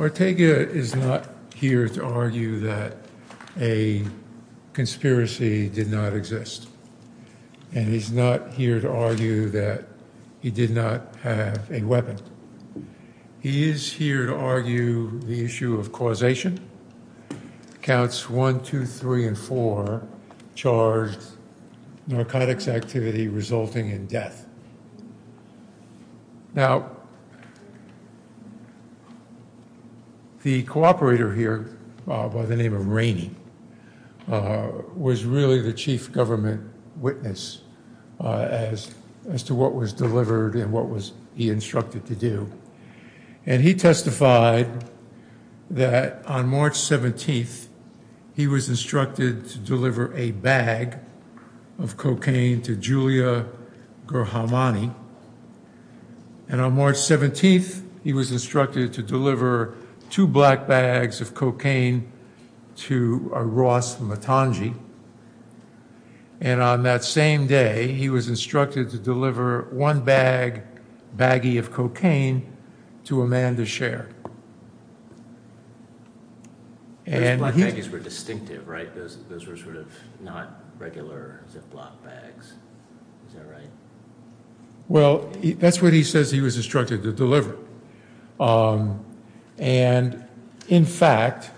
Ortega is not here to argue that a conspiracy did not exist and he's not here to argue that he did not have a weapon. He is here to argue the issue of causation. Counts 1, 2, 3, and 4 charged narcotics activity resulting in death. Now the cooperator here by the name of Rainey was really the chief government witness as to what was delivered and what was he instructed to do. And he testified that on March 17th he was instructed to deliver a bag of cocaine to Julia Gerharmani. And on March 17th he was instructed to deliver two black bags of cocaine to Ross Matangi. And on that same day he was instructed to deliver one bag, baggie of cocaine to Amanda Sher. Well that's what he says he was instructed to deliver. And in fact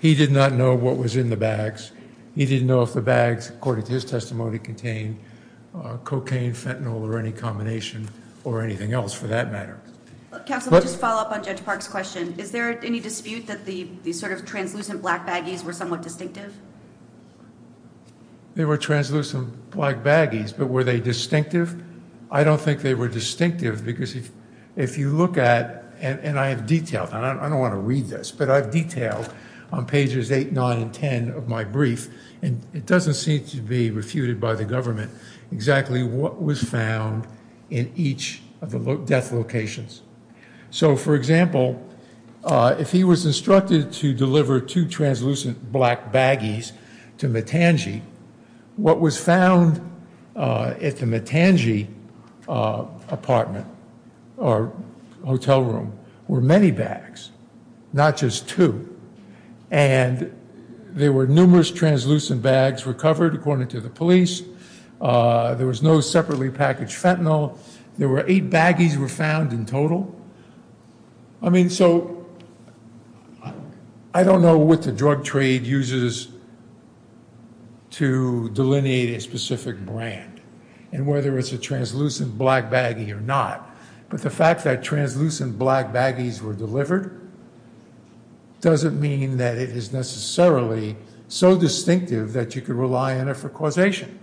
he did not know what was in the bags. He didn't know if the bags according to his testimony contained cocaine, fentanyl, or any combination or anything else for that matter. Counsel, just to follow up on Judge Park's question, is there any dispute that the sort of translucent black baggies were somewhat distinctive? There were translucent black baggies but were they distinctive? I don't think they were distinctive because if you look at, and I have detailed, and I don't want to read this, but I've detailed on pages 8, 9, and 10 of my brief. And it doesn't seem to be refuted by the government exactly what was found in each of the death locations. So for example, if he was instructed to deliver two translucent black baggies to Matangi, what was found at the Matangi apartment or hotel room were many bags, not just two. And there were numerous translucent bags recovered according to the police. There was no separately packaged fentanyl. There were eight baggies were found in total. I mean, so I don't know what the drug trade uses to delineate a specific brand and whether it's a translucent black baggie or not. But the fact that translucent black baggies were delivered doesn't mean that it is necessarily so distinctive that you can rely on it for causation.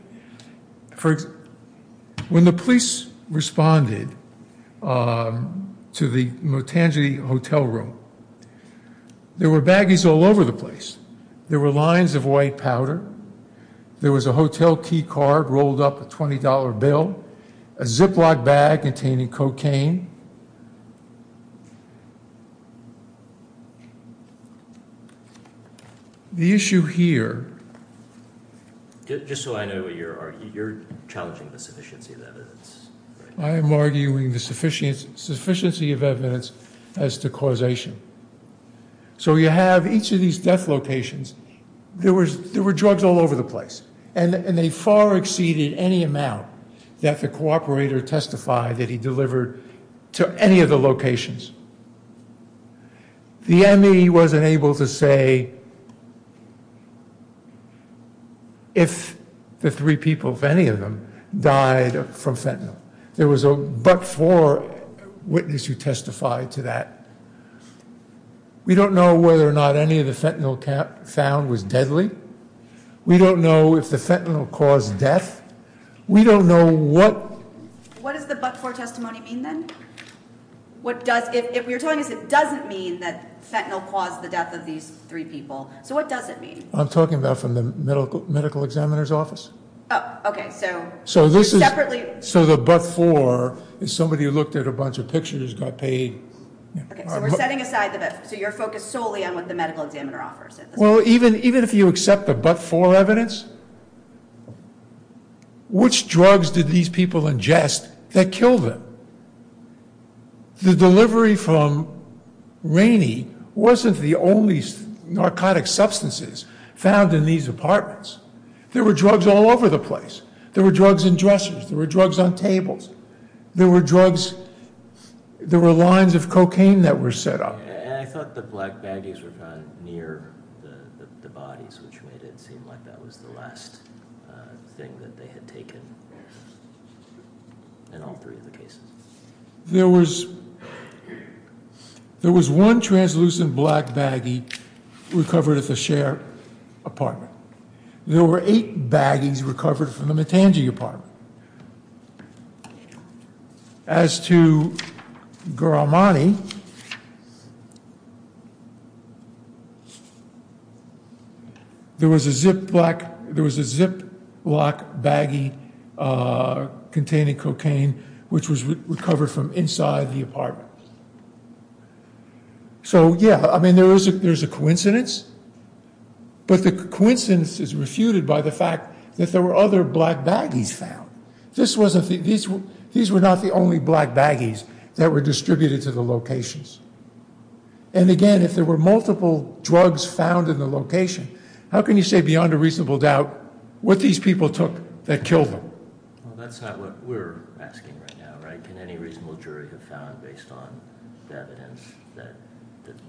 For example, when the police responded to the Matangi hotel room, there were baggies all over the place. There were lines of white powder. There was a hotel key card rolled up, a $20 bill, a Ziploc bag containing cocaine. The issue here. Just so I know what you're arguing, you're challenging the sufficiency of evidence. I am arguing the sufficiency of evidence as to causation. So you have each of these death locations. There were drugs all over the place. And they far exceeded any amount that the cooperator testified that he delivered to any of the locations. The ME wasn't able to say if the three people, if any of them, died from fentanyl. There was a but-for witness who testified to that. We don't know whether or not any of the fentanyl found was deadly. We don't know if the fentanyl caused death. We don't know what... What does the but-for testimony mean then? If you're telling us it doesn't mean that fentanyl caused the death of these three people, so what does it mean? I'm talking about from the medical examiner's office. Oh, okay. So the but-for is somebody who looked at a bunch of pictures, got paid. Okay, so we're setting aside the but-for. So you're focused solely on what the medical examiner offers. Well, even if you accept the but-for evidence, which drugs did these people ingest that killed them? The delivery from Rainey wasn't the only narcotic substances found in these apartments. There were drugs all over the place. There were drugs in dressers. There were drugs on tables. There were drugs... There were lines of cocaine that were set up. And I thought the black baggies were found near the bodies, which made it seem like that was the last thing that they had taken in all three of the cases. There was one translucent black baggie recovered at the Cher apartment. There were eight baggies recovered from the Matangi apartment. As to Garamani, there was a ziplock baggie containing cocaine, which was recovered from inside the apartment. So, yeah, I mean, there's a coincidence. But the coincidence is refuted by the fact that there were other black baggies found. These were not the only black baggies that were distributed to the locations. And, again, if there were multiple drugs found in the location, how can you say beyond a reasonable doubt what these people took that killed them? Well, that's not what we're asking right now, right? How can any reasonable jury have found, based on the evidence, that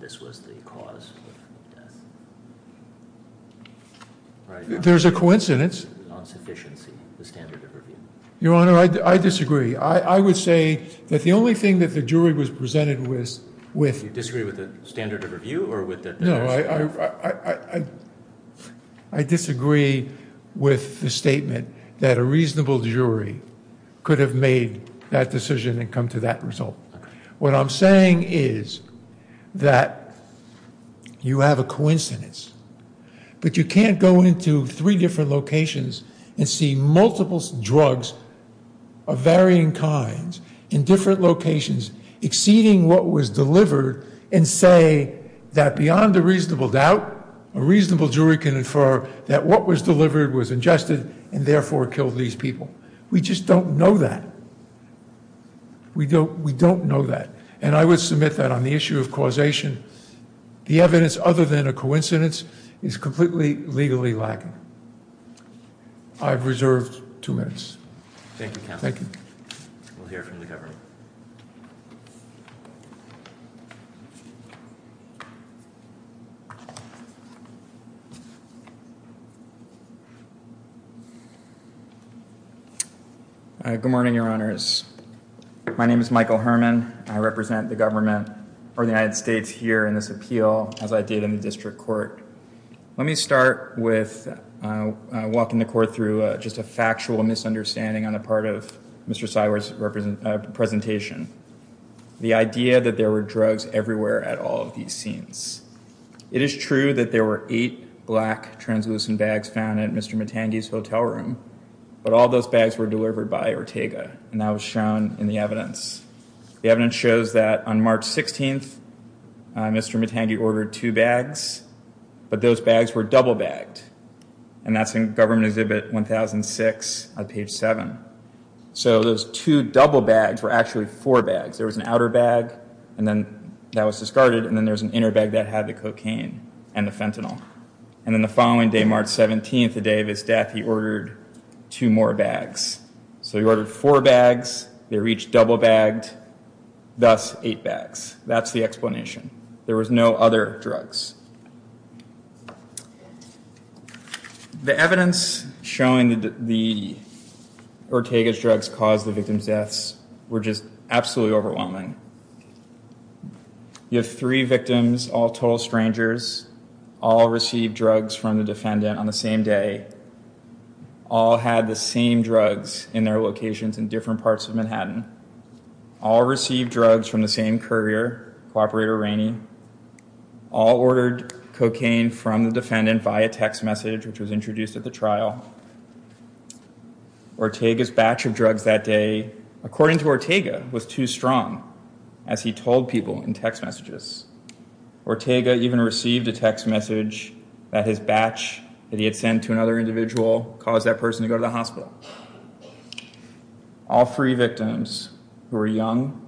this was the cause of death? There's a coincidence. The standard of review. Your Honor, I disagree. I would say that the only thing that the jury was presented with... You disagree with the standard of review or with the... No, I disagree with the statement that a reasonable jury could have made that decision and come to that result. What I'm saying is that you have a coincidence, but you can't go into three different locations and see multiple drugs of varying kinds in different locations, exceeding what was delivered, and say that beyond a reasonable doubt, a reasonable jury can infer that what was delivered was ingested and, therefore, killed these people. We just don't know that. We don't know that. And I would submit that on the issue of causation, the evidence, other than a coincidence, is completely legally lacking. I've reserved two minutes. Thank you, counsel. Thank you. We'll hear from the government. Good morning, Your Honors. My name is Michael Herman. I represent the government or the United States here in this appeal, as I did in the district court. Let me start with walking the court through just a factual misunderstanding on the part of Mr. Sywer's presentation, the idea that there were drugs everywhere at all of these scenes. It is true that there were eight black translucent bags found at Mr. Matangi's hotel room, but all those bags were delivered by Ortega, and that was shown in the evidence. The evidence shows that on March 16th, Mr. Matangi ordered two bags, but those bags were double bagged, and that's in Government Exhibit 1006 on page 7. So those two double bags were actually four bags. There was an outer bag that was discarded, and then there was an inner bag that had the cocaine and the fentanyl. And then the following day, March 17th, the day of his death, he ordered two more bags. So he ordered four bags. They were each double bagged, thus eight bags. That's the explanation. There was no other drugs. The evidence showing that the Ortega's drugs caused the victim's deaths were just absolutely overwhelming. You have three victims, all total strangers, all received drugs from the defendant on the same day, all had the same drugs in their locations in different parts of Manhattan, all received drugs from the same courier, Cooperator Rainey, all ordered cocaine from the defendant via text message, which was introduced at the trial. Ortega's batch of drugs that day, according to Ortega, was too strong, as he told people in text messages. Ortega even received a text message that his batch that he had sent to another individual caused that person to go to the hospital. All three victims, who were young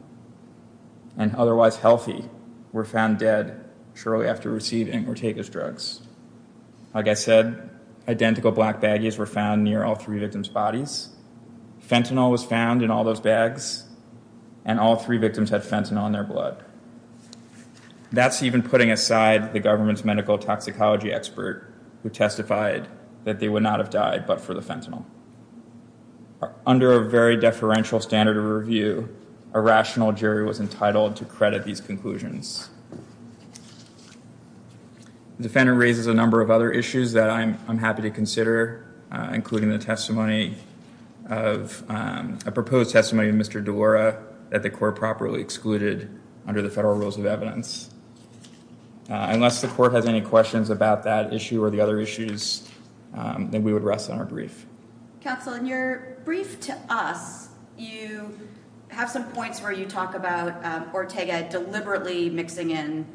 and otherwise healthy, were found dead shortly after receiving Ortega's drugs. Like I said, identical black baggies were found near all three victims' bodies. Fentanyl was found in all those bags, and all three victims had fentanyl in their blood. That's even putting aside the government's medical toxicology expert, who testified that they would not have died but for the fentanyl. Under a very deferential standard of review, a rational jury was entitled to credit these conclusions. The defendant raises a number of other issues that I'm happy to consider, including the testimony of a proposed testimony of Mr. DeLora, that the court properly excluded under the federal rules of evidence. Unless the court has any questions about that issue or the other issues, then we would rest on our brief. Counsel, in your brief to us, you have some points where you talk about Ortega deliberately mixing in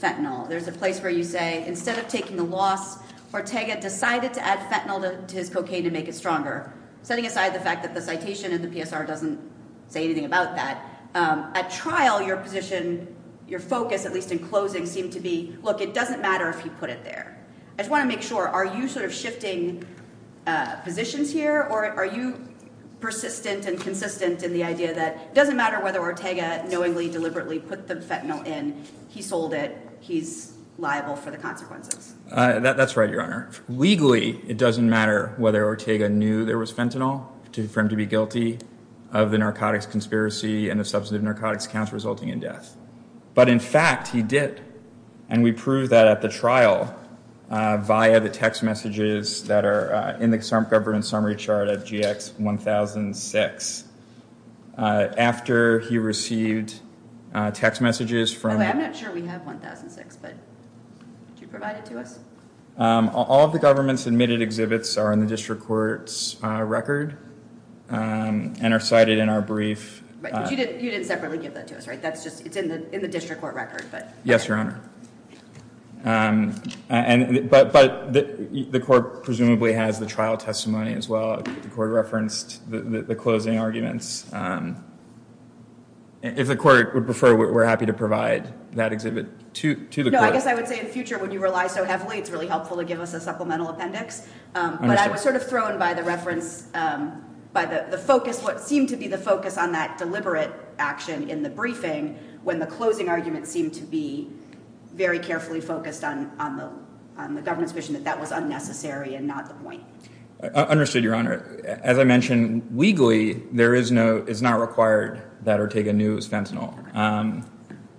fentanyl. There's a place where you say, instead of taking the loss, Ortega decided to add fentanyl to his cocaine to make it stronger, setting aside the fact that the citation in the PSR doesn't say anything about that. At trial, your position, your focus, at least in closing, seemed to be, look, it doesn't matter if you put it there. I just want to make sure, are you sort of shifting positions here? Or are you persistent and consistent in the idea that it doesn't matter whether Ortega knowingly, deliberately put the fentanyl in, he sold it, he's liable for the consequences? That's right, Your Honor. Legally, it doesn't matter whether Ortega knew there was fentanyl for him to be guilty of the narcotics conspiracy and the substantive narcotics counts resulting in death. But in fact, he did. And we proved that at the trial via the text messages that are in the government summary chart of GX 1006. After he received text messages from- I'm not sure we have 1006, but could you provide it to us? All of the government's admitted exhibits are in the district court's record and are cited in our brief. But you didn't separately give that to us, right? It's in the district court record. Yes, Your Honor. But the court presumably has the trial testimony as well. The court referenced the closing arguments. If the court would prefer, we're happy to provide that exhibit to the court. No, I guess I would say in the future, when you rely so heavily, it's really helpful to give us a supplemental appendix. But I was sort of thrown by the reference, by the focus, what seemed to be the focus on that deliberate action in the briefing, when the closing argument seemed to be very carefully focused on the government's position that that was unnecessary and not the point. Understood, Your Honor. As I mentioned, legally, there is no, it's not required that Ortega knew it was fentanyl.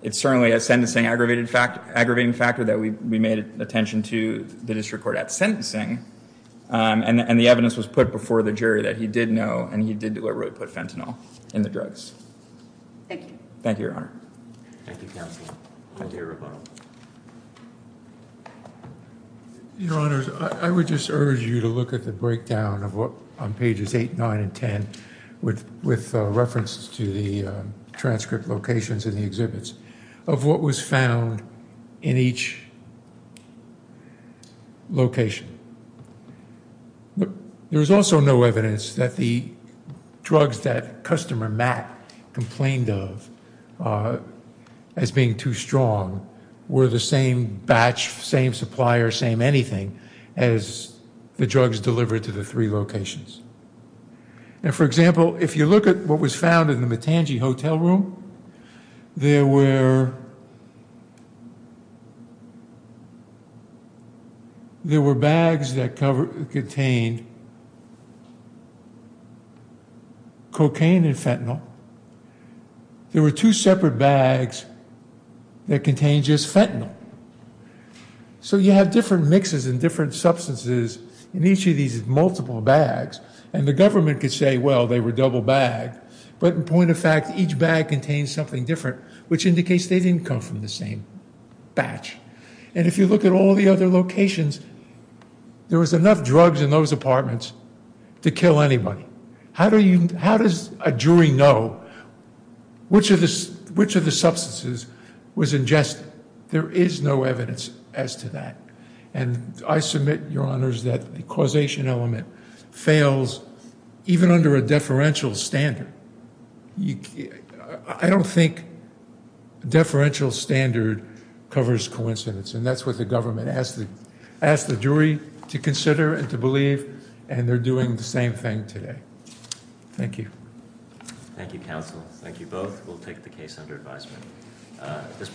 It's certainly a sentencing aggravating factor that we made attention to the district court at sentencing. And the evidence was put before the jury that he did know and he did deliberately put fentanyl in the drugs. Thank you. Thank you, Your Honor. Thank you, Counsel. Thank you, Your Honor. Your Honors, I would just urge you to look at the breakdown of what, on pages 8, 9, and 10, with reference to the transcript locations in the exhibits, of what was found in each location. There is also no evidence that the drugs that customer Matt complained of as being too strong were the same batch, same supplier, same anything, as the drugs delivered to the three locations. Now, for example, if you look at what was found in the Matangi Hotel room, there were bags that contained cocaine and fentanyl. There were two separate bags that contained just fentanyl. So you have different mixes and different substances in each of these multiple bags, and the government could say, well, they were double bagged. But in point of fact, each bag contained something different, which indicates they didn't come from the same batch. And if you look at all the other locations, there was enough drugs in those apartments to kill anybody. How does a jury know which of the substances was ingested? There is no evidence as to that. And I submit, Your Honors, that the causation element fails even under a deferential standard. I don't think deferential standard covers coincidence, and that's what the government asked the jury to consider and to believe, and they're doing the same thing today. Thank you. Thank you, counsel. Thank you both. We'll take the case under advisement.